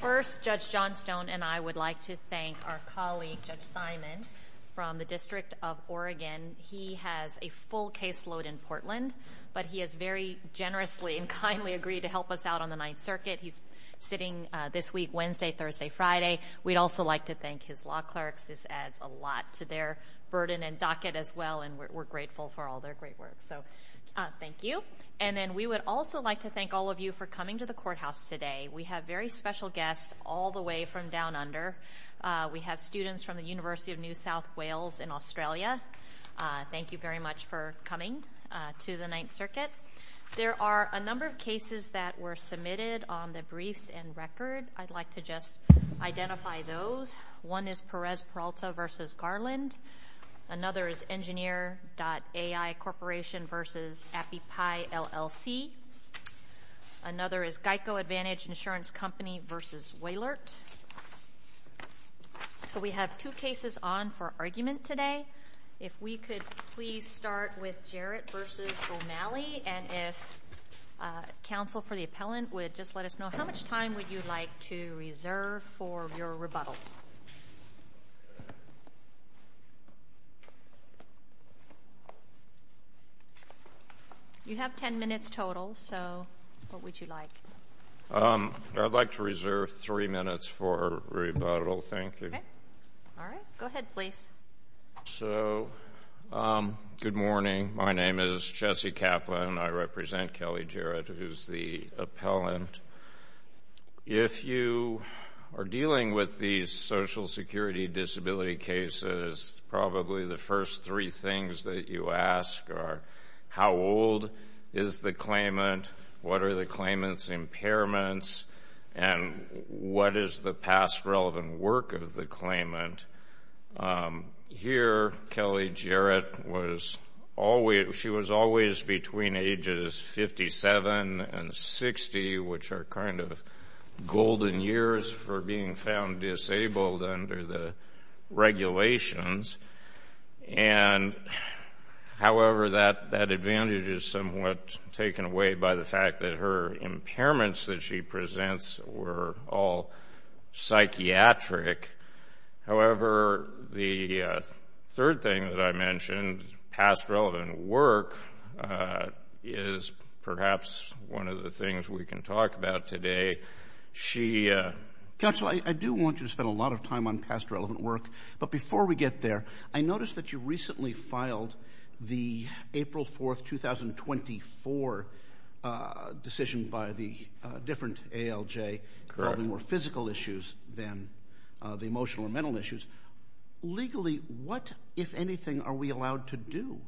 First, Judge Johnstone and I would like to thank our colleague, Judge Simon, from the District of Oregon. He has a full caseload in Portland, but he has very generously and kindly agreed to help us out on the Ninth Circuit. He's sitting this week, Wednesday, Thursday, Friday. We'd also like to thank his law clerks. This adds a lot to their burden and docket as well, and we're grateful for all their great work. So, thank you. And then we would also like to thank all of you for coming to the courthouse today. We have very special guests all the way from Down Under. We have students from the University of New South Wales in Australia. Thank you very much for coming to the Ninth Circuit. There are a number of cases that were submitted on the briefs and record. I'd like to just identify those. One is Perez Peralta v. Garland. Another is Engineer.AI Corporation v. AppiePie, LLC. Another is Geico Advantage Insurance Company v. Wailert. So, we have two cases on for argument today. If we could please start with Jarrett v. O'Malley, and if counsel for the appellant would just let us know, how much time would you like to reserve for your rebuttal? You have ten minutes total. So, what would you like? I'd like to reserve three minutes for rebuttal. Thank you. All right. Go ahead, please. So, good morning. My name is Jesse Kaplan. I represent Kelly Jarrett, who is the appellant. If you are dealing with these social security disability cases, probably the first three things that you ask are, how old is the claimant? What are the claimant's impairments? And what is the past relevant work of the claimant? Here, Kelly Jarrett was always, she was always being asked to be between ages 57 and 60, which are kind of golden years for being found disabled under the regulations. And, however, that advantage is somewhat taken away by the fact that her impairments that she presents were all psychiatric. However, the third thing that I mentioned, past relevant work, is perhaps one of the things we can talk about today. She... Counselor, I do want you to spend a lot of time on past relevant work, but before we get there, I noticed that you recently filed the April 4, 2024 decision by the different ALJ, probably more physical issues than the emotional or mental issues. Legally, what, if anything, are we allowed to do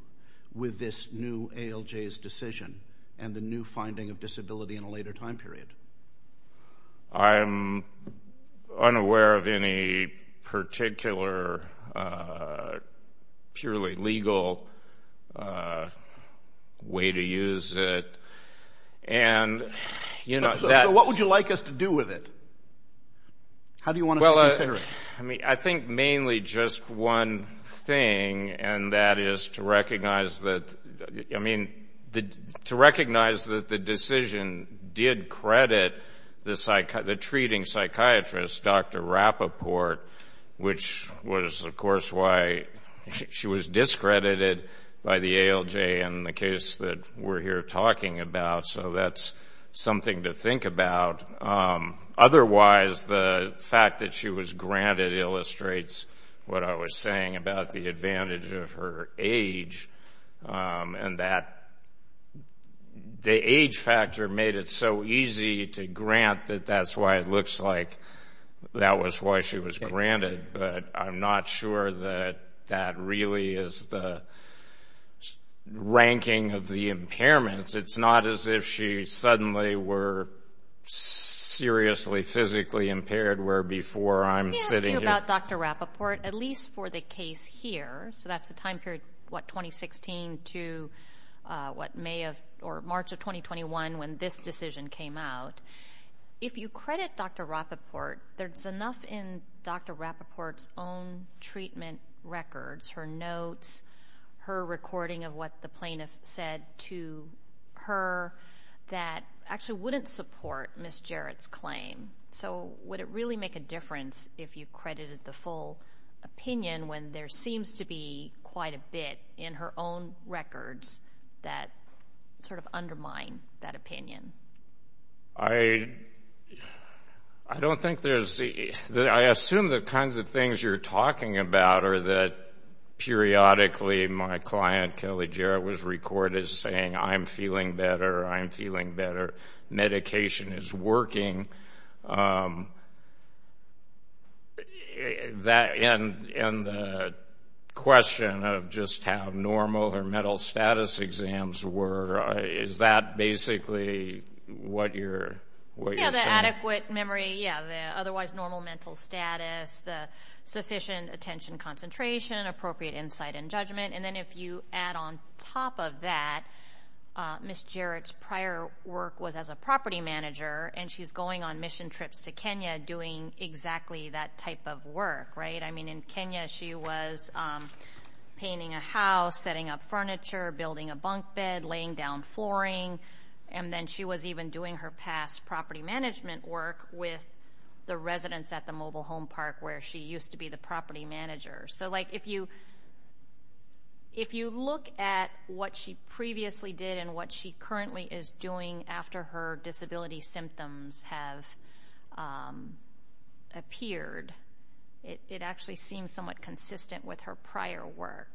with this new ALJ's decision and the new finding of disability in a later time period? I'm unaware of any particular purely legal way to use it. And, you know... What would you like us to do with it? How do you want us to consider it? Well, I mean, mainly just one thing, and that is to recognize that... I mean, to recognize that the decision did credit the treating psychiatrist, Dr. Rappaport, which was, of course, why she was discredited by the ALJ in the case that we're here talking about. So that's something to think about. Otherwise, the fact that she was granted illustrates what I was saying about the advantage of her age and that the age factor made it so easy to grant that that's why it looks like that was why she was granted. But I'm not sure that that really is the ranking of the impairments. It's not as if she suddenly were seriously physically impaired where before I'm sitting here... Let me ask you about Dr. Rappaport, at least for the case here. So that's the time period, what, 2016 to what, May of or March of 2021 when this decision came out. If you credit Dr. Rappaport, there's enough in Dr. Rappaport's own treatment records, her notes, her recording of what the plaintiff said to her that actually wouldn't support Ms. Jarrett's claim. So would it really make a difference if you credited the full opinion when there seems to be quite a bit in her own records that sort of undermine that opinion? I don't think there's... I assume the kinds of things you're talking about are that periodically my client, Kelly Jarrett, was recorded saying I'm feeling better, I'm feeling better, medication is working. And the question of just how normal or mental status exams were, is that basically what you're saying? Yeah, the adequate memory, yeah, the otherwise normal mental status, the sufficient attention concentration, appropriate insight and judgment. And then if you add on top of that, Ms. Jarrett's prior work was as a property manager and she's going on mission trips to Kenya doing exactly that type of work, right? I mean, in Kenya she was painting a house, setting up furniture, building a bunk bed, laying down flooring, and then she was even doing her past property management work with the residents at the mobile home park where she used to be the property manager. So if you look at what she previously did and what she currently is doing after her disability symptoms have appeared, it actually seems somewhat consistent with her prior work.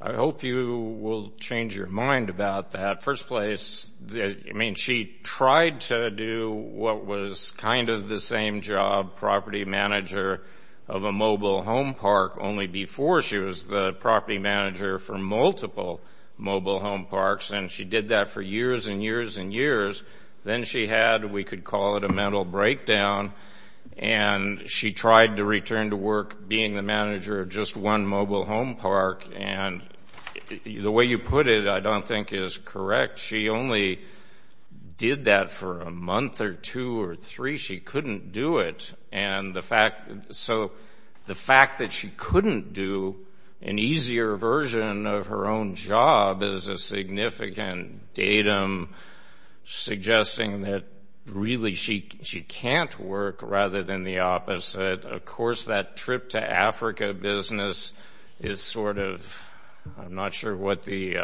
I hope you will change your mind about that. First place, I mean, she tried to do what was kind of the same job, property manager of a mobile home park, only before she was the property manager for multiple mobile home parks, and she did that for years and years and years. Then she had, we could call it a mental breakdown, and she tried to return to work being the manager of just one mobile home park. And the way you put it I don't think is correct. She only did that for a month or two or three. She couldn't do it. And the fact, so the fact that she couldn't do an easier version of her own job is a significant datum suggesting that really she can't work rather than the opposite. Of course, that trip to Africa business is sort of, I'm not sure what the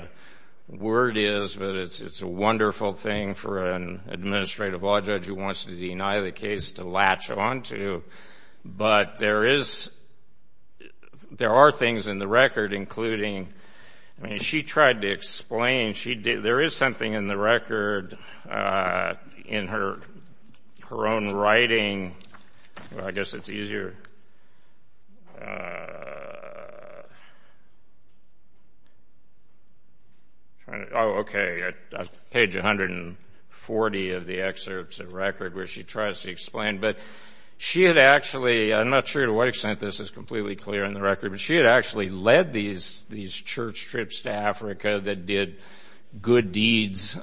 word is, but it's a wonderful thing for an administrative law judge who wants to deny the case to latch onto. But there is, there are things in the record including, I mean, she tried to explain, she did, there is something in the record in her own writing, I guess it's easier to hear. Oh, okay, page 140 of the excerpts of record where she tries to explain, but she had actually, I'm not sure to what extent this is completely clear in the record, but she had actually led these church trips to Africa that did good deeds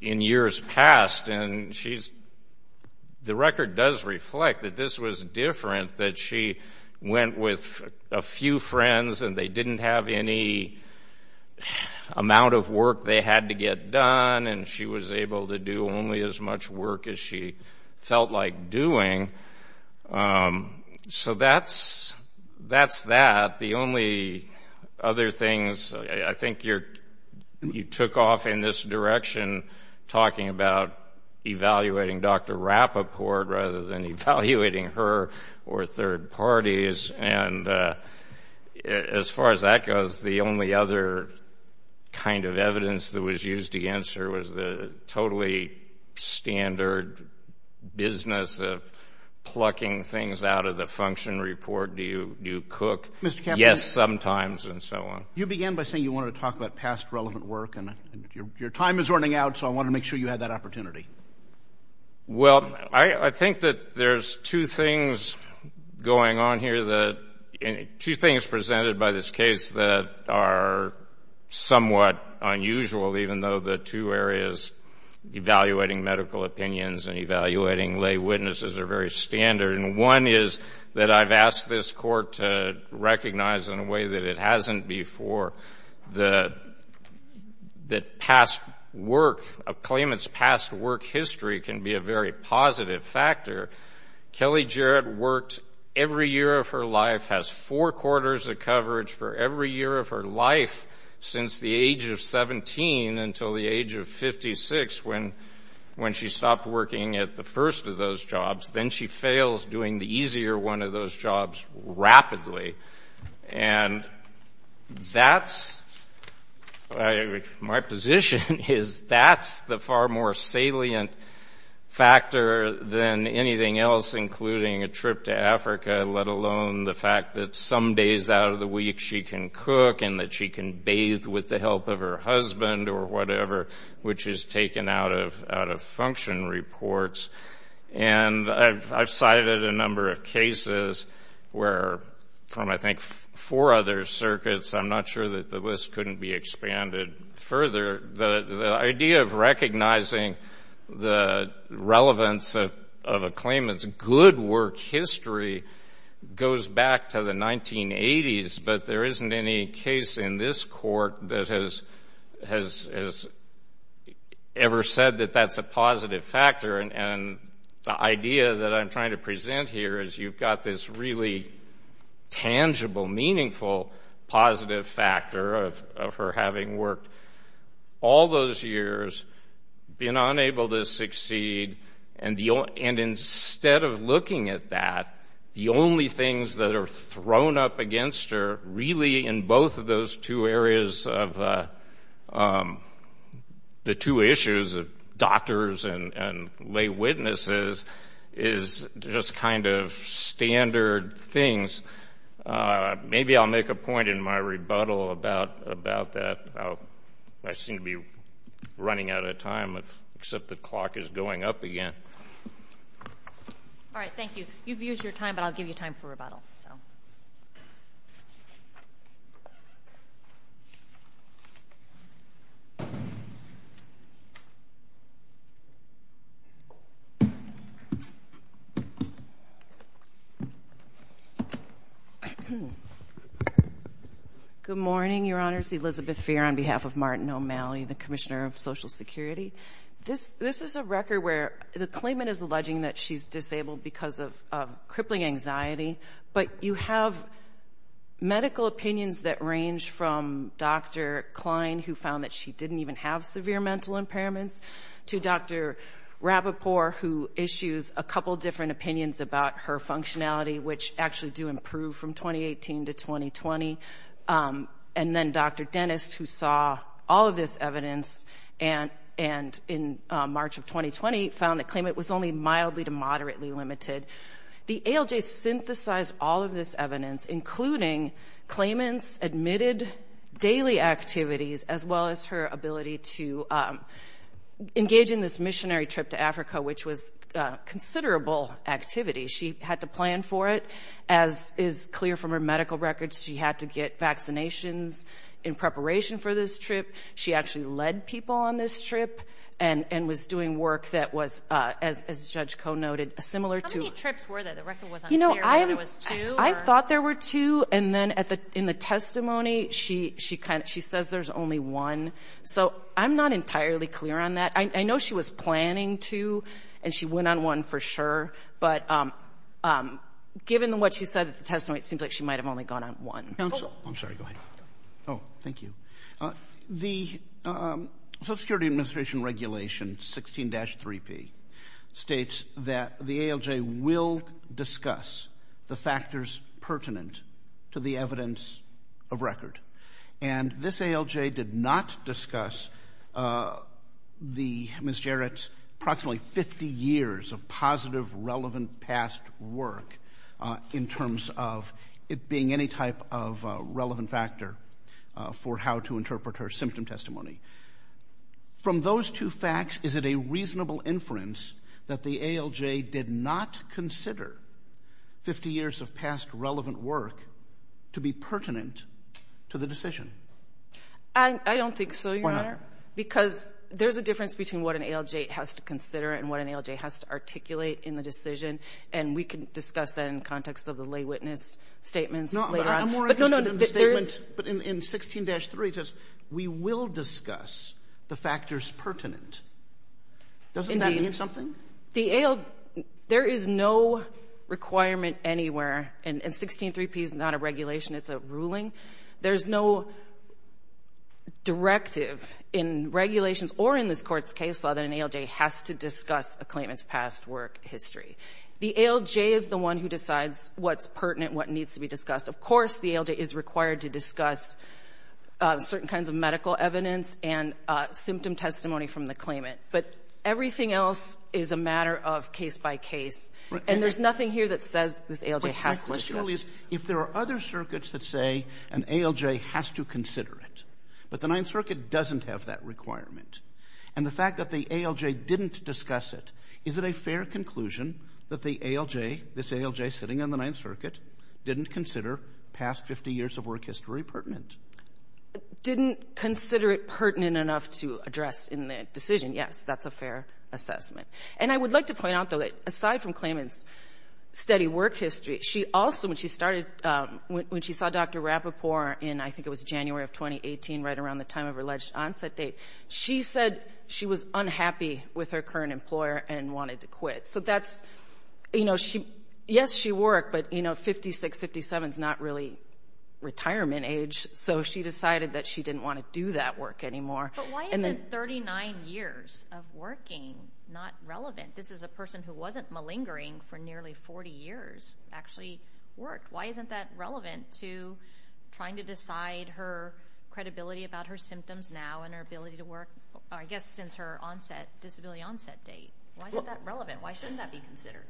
in years past. And she's, the record does reflect that this was different, that she went with a few friends and they didn't have any amount of work they had to get done and she was able to do only as much work as she felt like doing. So that's that. The only other things, I think you took off in this direction talking about evaluating Dr. Rapoport rather than evaluating her or third parties and as far as that goes, the only other kind of evidence that was used against her was the totally standard business of plucking things out of the function report, do you cook? Yes, sometimes and so on. You began by saying you wanted to talk about past relevant work and your time is running out so I wanted to make sure you had that opportunity. Well I think that there's two things going on here that, two things presented by this case that are somewhat unusual even though the two areas, evaluating medical opinions and evaluating lay witnesses are very standard and one is that I've asked this court to recognize in a way that it hasn't before that past work, a claimant's past work history can be a very positive factor. Kelly Jarrett worked every year of her life, has four quarters of coverage for every year of her life since the age of 17 until the age of 56 when she stopped working at the first of those jobs. Then she fails doing the easier one of those jobs rapidly and that's, my position is that's the far more salient factor than anything else including a trip to Africa let alone the fact that some days out of the week she can cook and that she can bathe with the help of her husband or whatever which is taken out of function reports and I've cited a number of cases where from I think four other circuits I'm not sure that the list couldn't be expanded further. The idea of recognizing the relevance of a claimant's good work history goes back to the 1980s but there isn't any case in this court that has ever said that that's a positive factor and the idea that I'm trying to present here is you've got this really tangible, meaningful positive factor of her having worked all those years, been unable to succeed and instead of looking at that, the only things that are thrown up against her really in both of those two areas of the two issues of doctors and lay witnesses is just kind of standard things. Maybe I'll make a point in my rebuttal about that. I seem to be running out of time except the clock is going up again. All right. Thank you. You've used your time but I'll give you time for rebuttal. Good morning, Your Honors. Elizabeth Feer on behalf of Martin O'Malley, the Commissioner of Social Security. This is a record where the claimant is alleging that she's disabled because of crippling anxiety but you have medical opinions that range from Dr. Klein who found that she didn't even have severe mental impairments to Dr. Rapoport who issues a couple different opinions about her functionality which actually do improve from 2018 to 2020 and then Dr. Dennis who saw all of this evidence and in March of 2020 found the claimant was only mildly to moderately limited. The ALJ synthesized all of this evidence including claimant's admitted daily activities as well as her ability to engage in this missionary trip to Africa which was considerable activity. She had to plan for it. As is clear from her medical records, she had to get vaccinations in preparation for this trip. She actually led people on this trip and was doing work that was, as Judge Koh noted, similar to— How many trips were there? The record wasn't clear whether it was two or— I thought there were two and then in the testimony, she says there's only one. So I'm not entirely clear on that. I know she was planning two and she went on one for sure but given what she said at the testimony, it seems like she might have only gone on one. Counsel. I'm sorry. Go ahead. Oh, thank you. The Social Security Administration Regulation 16-3P states that the ALJ will discuss the factors pertinent to the evidence of record and this ALJ did not discuss the—Ms. Koh, in terms of it being any type of relevant factor for how to interpret her symptom testimony. From those two facts, is it a reasonable inference that the ALJ did not consider 50 years of past relevant work to be pertinent to the decision? I don't think so, Your Honor, because there's a difference between what an ALJ has to consider and what an ALJ has to articulate in the decision and we can discuss that in the context of the lay witness statements later on. But I'm more interested in the statement, but in 16-3, it says we will discuss the factors pertinent. Doesn't that mean something? Indeed. The ALJ, there is no requirement anywhere, and 16-3P is not a regulation, it's a ruling. There's no directive in regulations or in this Court's case law that an ALJ has to discuss a claimant's past work history. The ALJ is the one who decides what's pertinent, what needs to be discussed. Of course, the ALJ is required to discuss certain kinds of medical evidence and symptom testimony from the claimant. But everything else is a matter of case by case. And there's nothing here that says this ALJ has to discuss it. My question is, if there are other circuits that say an ALJ has to consider it, but the Ninth Circuit doesn't have that requirement, and the fact that the ALJ didn't discuss it, is it a fair conclusion that the ALJ, this ALJ sitting on the Ninth Circuit, didn't consider past 50 years of work history pertinent? Didn't consider it pertinent enough to address in the decision, yes. That's a fair assessment. And I would like to point out, though, that aside from claimant's steady work history, she also, when she started, when she saw Dr. Rapoport in, I think it was January of 2018, right around the time of her alleged onset date, she said she was unhappy with her current employer and wanted to quit. So that's, you know, she, yes, she worked, but, you know, 56, 57 is not really retirement age. So she decided that she didn't want to do that work anymore. But why is it 39 years of working not relevant? This is a person who wasn't malingering for nearly 40 years actually worked. Why isn't that relevant to trying to decide her credibility about her symptoms now and her ability to work, I guess, since her onset, disability onset date? Why isn't that relevant? Why shouldn't that be considered?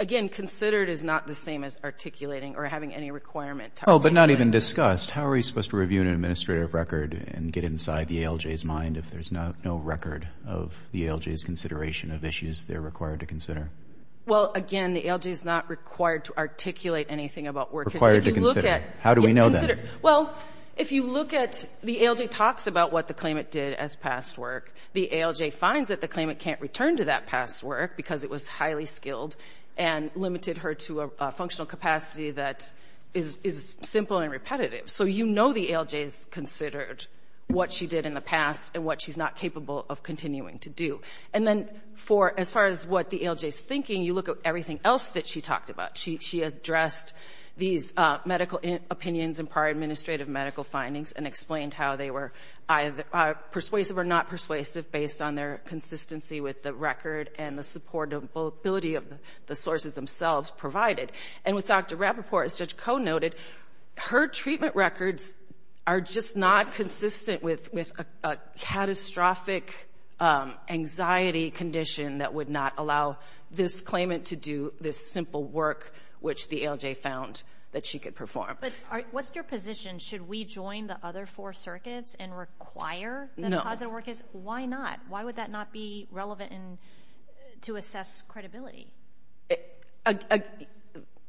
Again, considered is not the same as articulating or having any requirement to articulate. Oh, but not even discussed. How are you supposed to review an administrative record and get inside the ALJ's mind if there's no record of the ALJ's consideration of issues they're required to consider? Well, again, the ALJ is not required to articulate anything about work. Required to consider. How do we know that? Well, if you look at the ALJ talks about what the claimant did as past work, the ALJ finds that the claimant can't return to that past work because it was highly skilled and limited her to a functional capacity that is simple and repetitive. So, you know, the ALJ is considered what she did in the past and what she's not capable of continuing to do. And then for as far as what the ALJ is thinking, you look at everything else that she talked about. She addressed these medical opinions and prior administrative medical findings and explained how they were persuasive or not persuasive based on their consistency with the record and the supportability of the sources themselves provided. And with Dr. Rapoport, as Judge Koh noted, her treatment records are just not consistent with a catastrophic anxiety condition that would not allow this claimant to do this simple work which the ALJ found that she could perform. But what's your position? Should we join the other four circuits and require that a positive work case? Why not? Why would that not be relevant to assess credibility?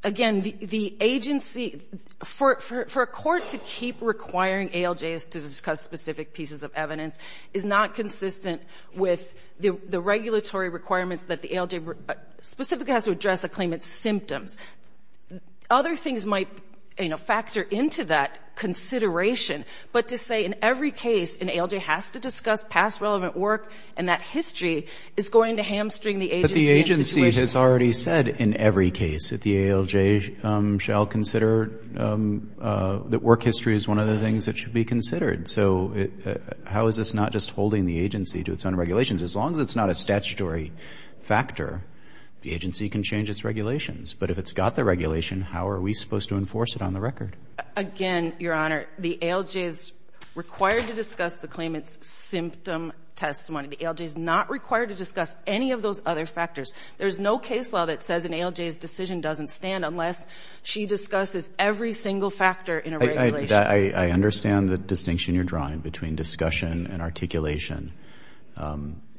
Again, the agency, for a court to keep requiring ALJs to discuss specific pieces of evidence is not consistent with the regulatory requirements that the ALJ specifically has to address a claimant's symptoms. Other things might, you know, factor into that consideration. But to say in every case an ALJ has to discuss past relevant work and that history is going to hamstring the agency and situation. But it's already said in every case that the ALJ shall consider that work history is one of the things that should be considered. So how is this not just holding the agency to its own regulations? As long as it's not a statutory factor, the agency can change its regulations. But if it's got the regulation, how are we supposed to enforce it on the record? Again, Your Honor, the ALJ is required to discuss the claimant's symptom testimony. The ALJ is not required to discuss any of those other factors. There's no case law that says an ALJ's decision doesn't stand unless she discusses every single factor in a regulation. I understand the distinction you're drawing between discussion and articulation.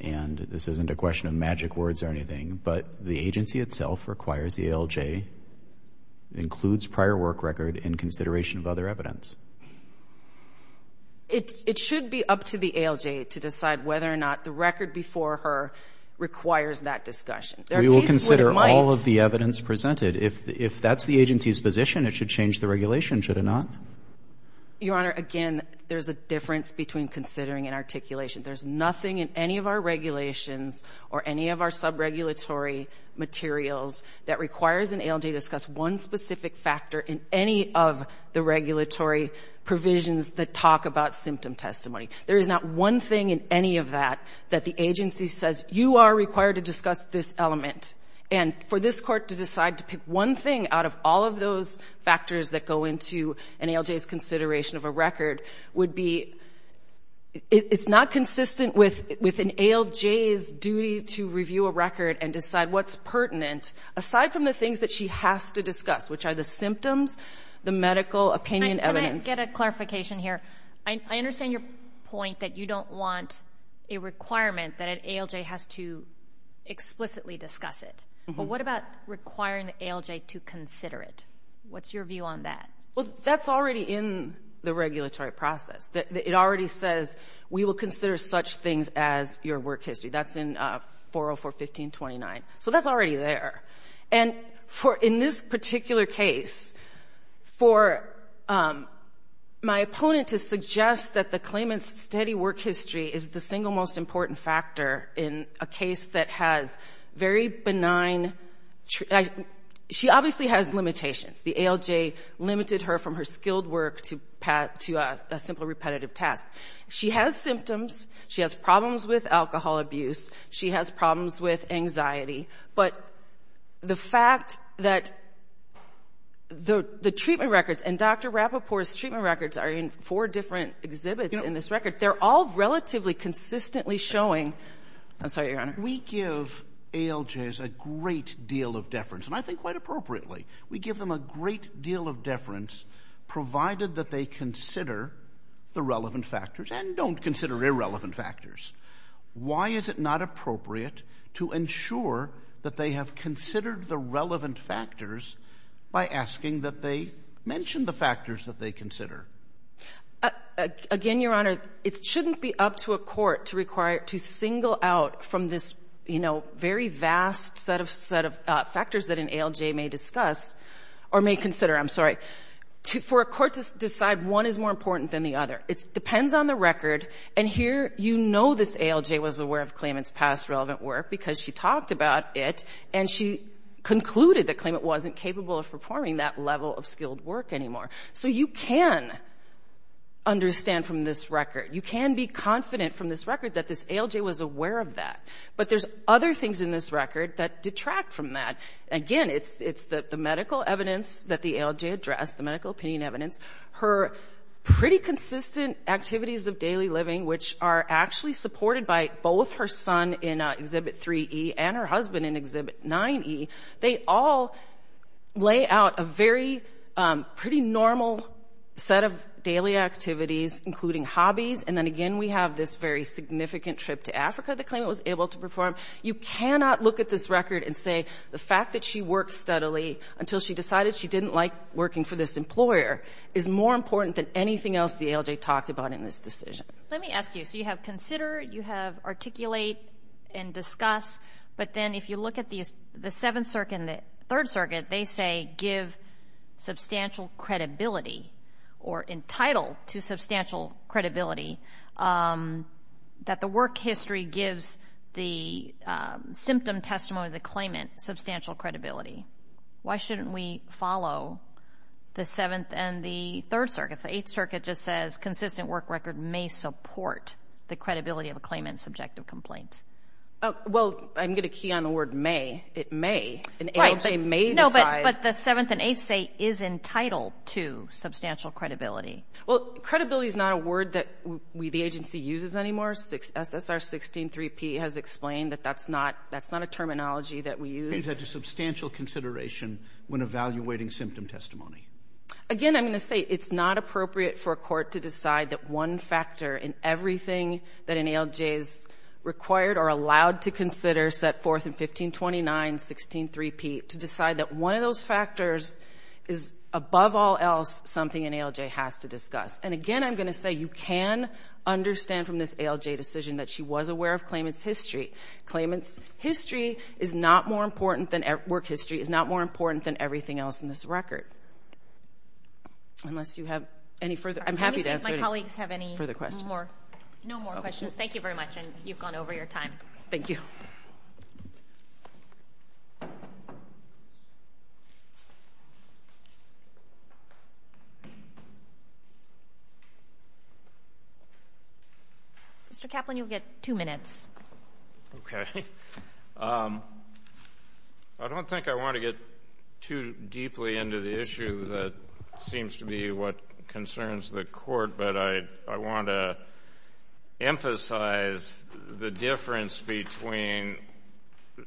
And this isn't a question of magic words or anything. But the agency itself requires the ALJ includes prior work record in consideration of other evidence. It should be up to the ALJ to decide whether or not the record before her requires that discussion. We will consider all of the evidence presented. If that's the agency's position, it should change the regulation, should it not? Your Honor, again, there's a difference between considering and articulation. There's nothing in any of our regulations or any of our subregulatory materials that requires an ALJ to discuss one specific factor in any of the regulatory provisions that talk about symptom testimony. There is not one thing in any of that that the agency says, you are required to discuss this element. And for this Court to decide to pick one thing out of all of those factors that go into an ALJ's consideration of a record would be, it's not consistent with an ALJ's duty to review a record and decide what's pertinent, aside from the things that she has to discuss, which are the symptoms, the medical opinion evidence. Let me get a clarification here. I understand your point that you don't want a requirement that an ALJ has to explicitly discuss it. But what about requiring the ALJ to consider it? What's your view on that? Well, that's already in the regulatory process. It already says, we will consider such things as your work history. That's in 404.15.29. So that's already there. And in this particular case, for my opponent to suggest that the claimant's steady work history is the single most important factor in a case that has very benign — she obviously has limitations. The ALJ limited her from her skilled work to a simple repetitive task. She has symptoms. She has problems with alcohol abuse. She has problems with anxiety. But the fact that the treatment records and Dr. Rapoport's treatment records are in four different exhibits in this record, they're all relatively consistently showing — I'm sorry, Your Honor. We give ALJs a great deal of deference, and I think quite appropriately. We give them a great deal of deference, provided that they consider the relevant factors and don't consider irrelevant factors. Why is it not appropriate to ensure that they have considered the relevant factors by asking that they mention the factors that they consider? Again, Your Honor, it shouldn't be up to a court to require — to single out from this, you know, very vast set of factors that an ALJ may discuss or may consider. I'm sorry. For a court to decide one is more important than the other. It depends on the record. And here, you know this ALJ was aware of Klayman's past relevant work because she talked about it, and she concluded that Klayman wasn't capable of performing that level of skilled work anymore. So you can understand from this record. You can be confident from this record that this ALJ was aware of that. But there's other things in this record that detract from that. Again, it's the medical evidence that the ALJ addressed, the medical opinion evidence, her pretty consistent activities of daily living, which are actually supported by both her son in Exhibit 3E and her husband in Exhibit 9E. They all lay out a very pretty normal set of daily activities, including hobbies. And then again, we have this very significant trip to Africa that Klayman was able to perform. You cannot look at this record and say the fact that she worked steadily until she decided she didn't like working for this employer is more important than anything else the ALJ talked about in this decision. Let me ask you. So you have consider, you have articulate and discuss, but then if you look at the Seventh Circuit and the Third Circuit, they say give substantial credibility or entitled to substantial credibility that the work history gives the symptom testimony of the Klayman substantial credibility. Why shouldn't we follow the Seventh and the Third Circuit? The Eighth Circuit just says consistent work record may support the credibility of a Klayman subjective complaint. Well, I'm going to key on the word may. It may. Right. An ALJ may decide. No, but the Seventh and Eighth say is entitled to substantial credibility. Well, credibility is not a word that we, the agency, uses anymore. SSR 16-3P has explained that that's not a terminology that we use. Klayman's had to substantial consideration when evaluating symptom testimony. Again, I'm going to say it's not appropriate for a court to decide that one factor in everything that an ALJ is required or allowed to consider set forth in 1529-16-3P to decide that one of those factors is above all else something an ALJ has to discuss. And again, I'm going to say you can understand from this ALJ decision that she was aware of Klayman's history. Klayman's history is not more important than, work history is not more important than everything else in this record, unless you have any further, I'm happy to answer any further questions. Let me see if my colleagues have any more, no more questions. Thank you very much. And you've gone over your time. Thank you. Mr. Kaplan, you'll get two minutes. I don't think I want to get too deeply into the issue that seems to be what concerns the court, but I want to emphasize the difference between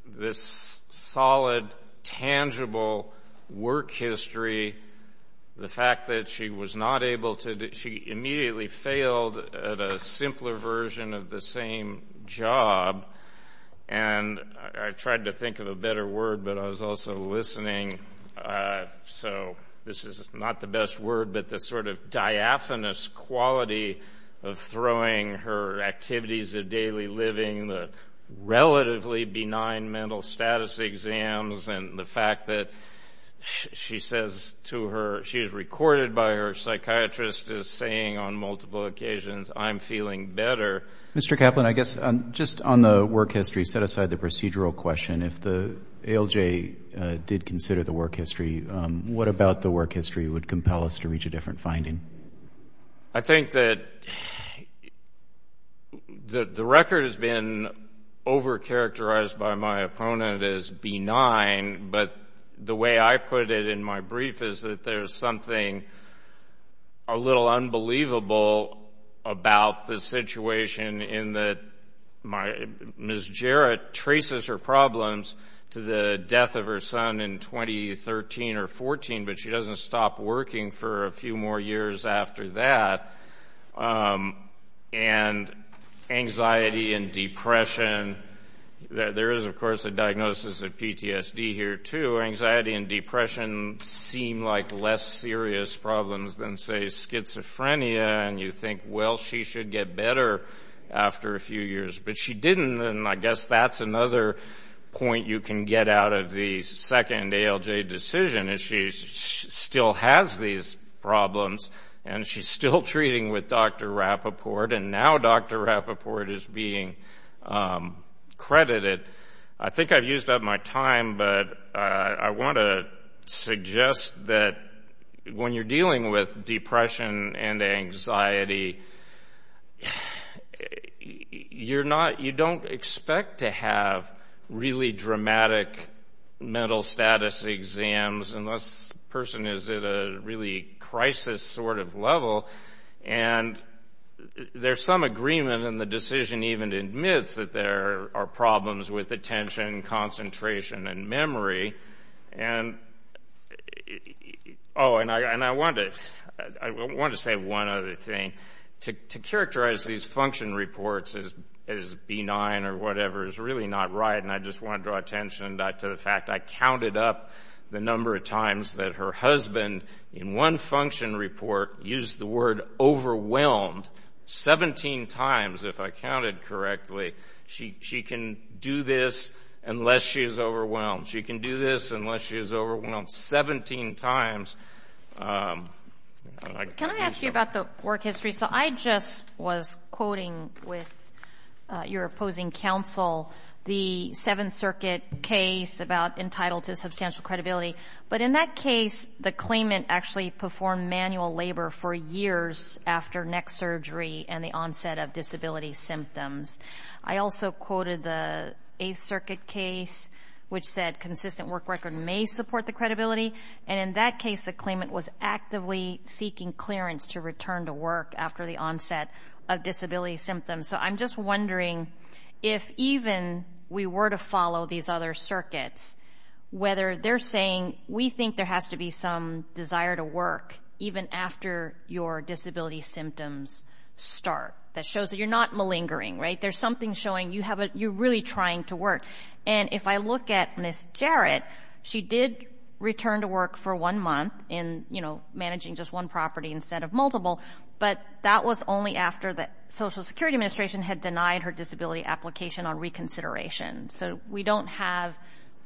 this solid, tangible work history, the fact that she was not able to, she immediately failed at a simpler version of the same job. And I tried to think of a better word, but I was also listening. So, this is not the best word, but the sort of diaphanous quality of throwing her activities of daily living, the relatively benign mental status exams, and the fact that she says to her, she is recorded by her psychiatrist as saying on multiple occasions, I'm feeling better. Mr. Kaplan, I guess just on the work history, set aside the procedural question, if the ALJ did consider the work history, what about the work history would compel us to reach a different finding? I think that the record has been over-characterized by my opponent as benign, but the way I put it in my brief is that there's something a little unbelievable about the situation in that Ms. Jarrett traces her problems to the death of her son in 2013 or 14, but she doesn't stop working for a few more years after that. And anxiety and depression, there is, of course, a diagnosis of PTSD here too, anxiety and depression seem like less serious problems than, say, schizophrenia, and you think, well, she should get better after a few years. But she didn't, and I guess that's another point you can get out of the second ALJ decision, is she still has these problems, and she's still treating with Dr. Rappaport, and now Dr. Rappaport is being credited. I think I've used up my time, but I want to suggest that when you're dealing with depression and anxiety, you don't expect to have really dramatic mental status exams unless the person is at a really crisis sort of level, and there's some agreement, and the decision even admits that there are problems with attention, concentration, and memory. And I want to say one other thing. To characterize these function reports as benign or whatever is really not right, and I just want to draw attention to the fact I counted up the number of times that her husband, in one function report, used the word she can do this unless she is overwhelmed. She can do this unless she is overwhelmed 17 times. Can I ask you about the work history? So I just was quoting with your opposing counsel the Seventh Circuit case about entitled to substantial credibility, but in that case, the claimant actually performed manual labor for years after neck surgery and the onset of disability symptoms. I also quoted the Eighth Circuit case, which said consistent work record may support the credibility, and in that case, the claimant was actively seeking clearance to return to work after the onset of disability symptoms. So I'm just wondering if even we were to follow these other circuits, whether they're saying we think there has to be some desire to work even after your disability symptoms start, that shows that you're not malingering, right, there's something showing you're really trying to work. And if I look at Ms. Jarrett, she did return to work for one month in, you know, managing just one property instead of multiple, but that was only after the Social Security Administration had denied her disability application on reconsideration. So we don't have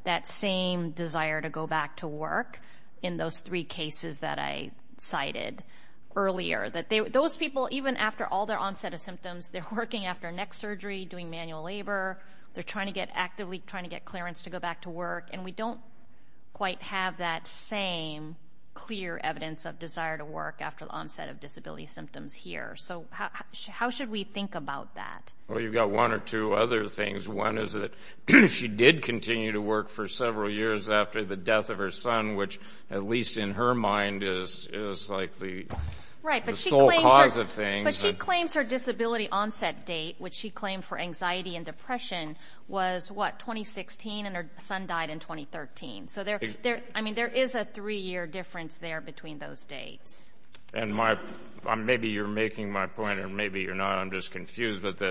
that same desire to go back to work in those three cases that I cited earlier. Those people, even after all their onset of symptoms, they're working after neck surgery, doing manual labor, they're actively trying to get clearance to go back to work, and we don't quite have that same clear evidence of desire to work after the onset of disability symptoms here. So how should we think about that? Well, you've got one or two other things. One is that she did continue to work for several years after the death of her son, which, at least in her mind, is like the sole cause of things. But she claims her disability onset date, which she claimed for anxiety and depression, was, what, 2016, and her son died in 2013. So there is a three-year difference there between those dates. And maybe you're making my point, or maybe you're not. I'm just confused. But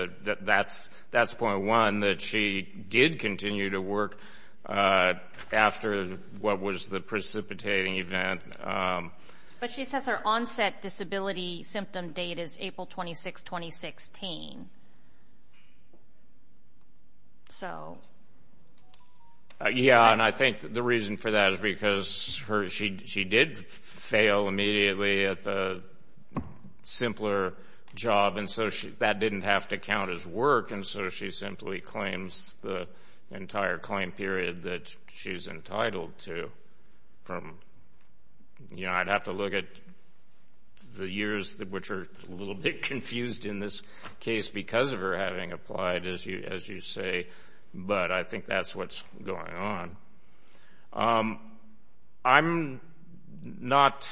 that's point one, that she did continue to work after what was the precipitating event. But she says her onset disability symptom date is April 26, 2016. So... Yeah, and I think the reason for that is because she did fail immediately at the simpler job, and so that didn't have to count as work, and so she simply claims the entire claim period that she's entitled to from, you know, I'd have to look at the years which are a little bit confused in this case because of her having applied, as you say, but I think that's what's going on. I'm not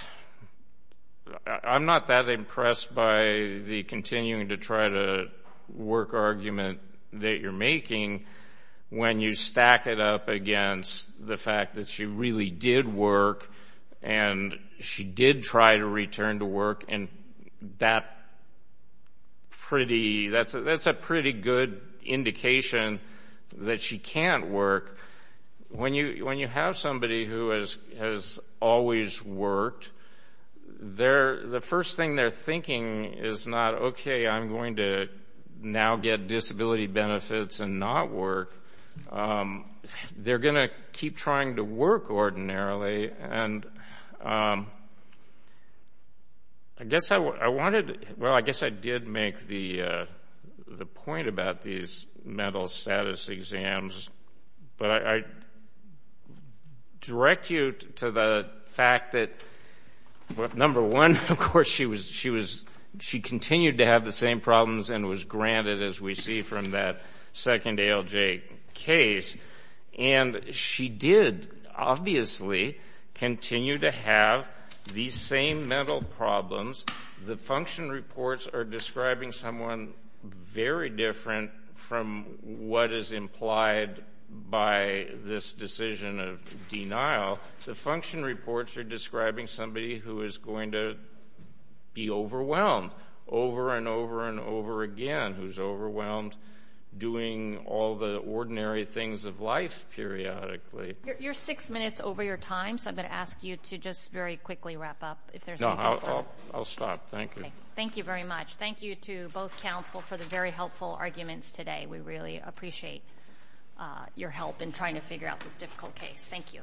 that impressed by the continuing-to-try-to-work argument that you're making when you stack it up against the fact that she really did work, and she did try to return to work, and that's a pretty good indication that she can't work. When you have somebody who has always worked, the first thing they're thinking is not, okay, I'm going to now get disability benefits and not work. They're going to keep trying to work ordinarily, and I guess I wanted... Well, I guess I did make the point about these mental status exams, but I direct you to the fact that, number one, of course, she continued to have the same problems and was granted, as we see from that second ALJ case, and she did obviously continue to have these same mental problems. The function reports are describing someone very different from what is implied by this decision of denial. The function reports are describing somebody who is going to be overwhelmed over and over and over again, who's overwhelmed doing all the ordinary things of life periodically. You're six minutes over your time, so I'm going to ask you to just very quickly wrap up if there's anything... No, I'll stop. Thank you. Thank you very much. Thank you to both counsel for the very helpful arguments today. We really appreciate your help in trying to figure out this difficult case. Thank you.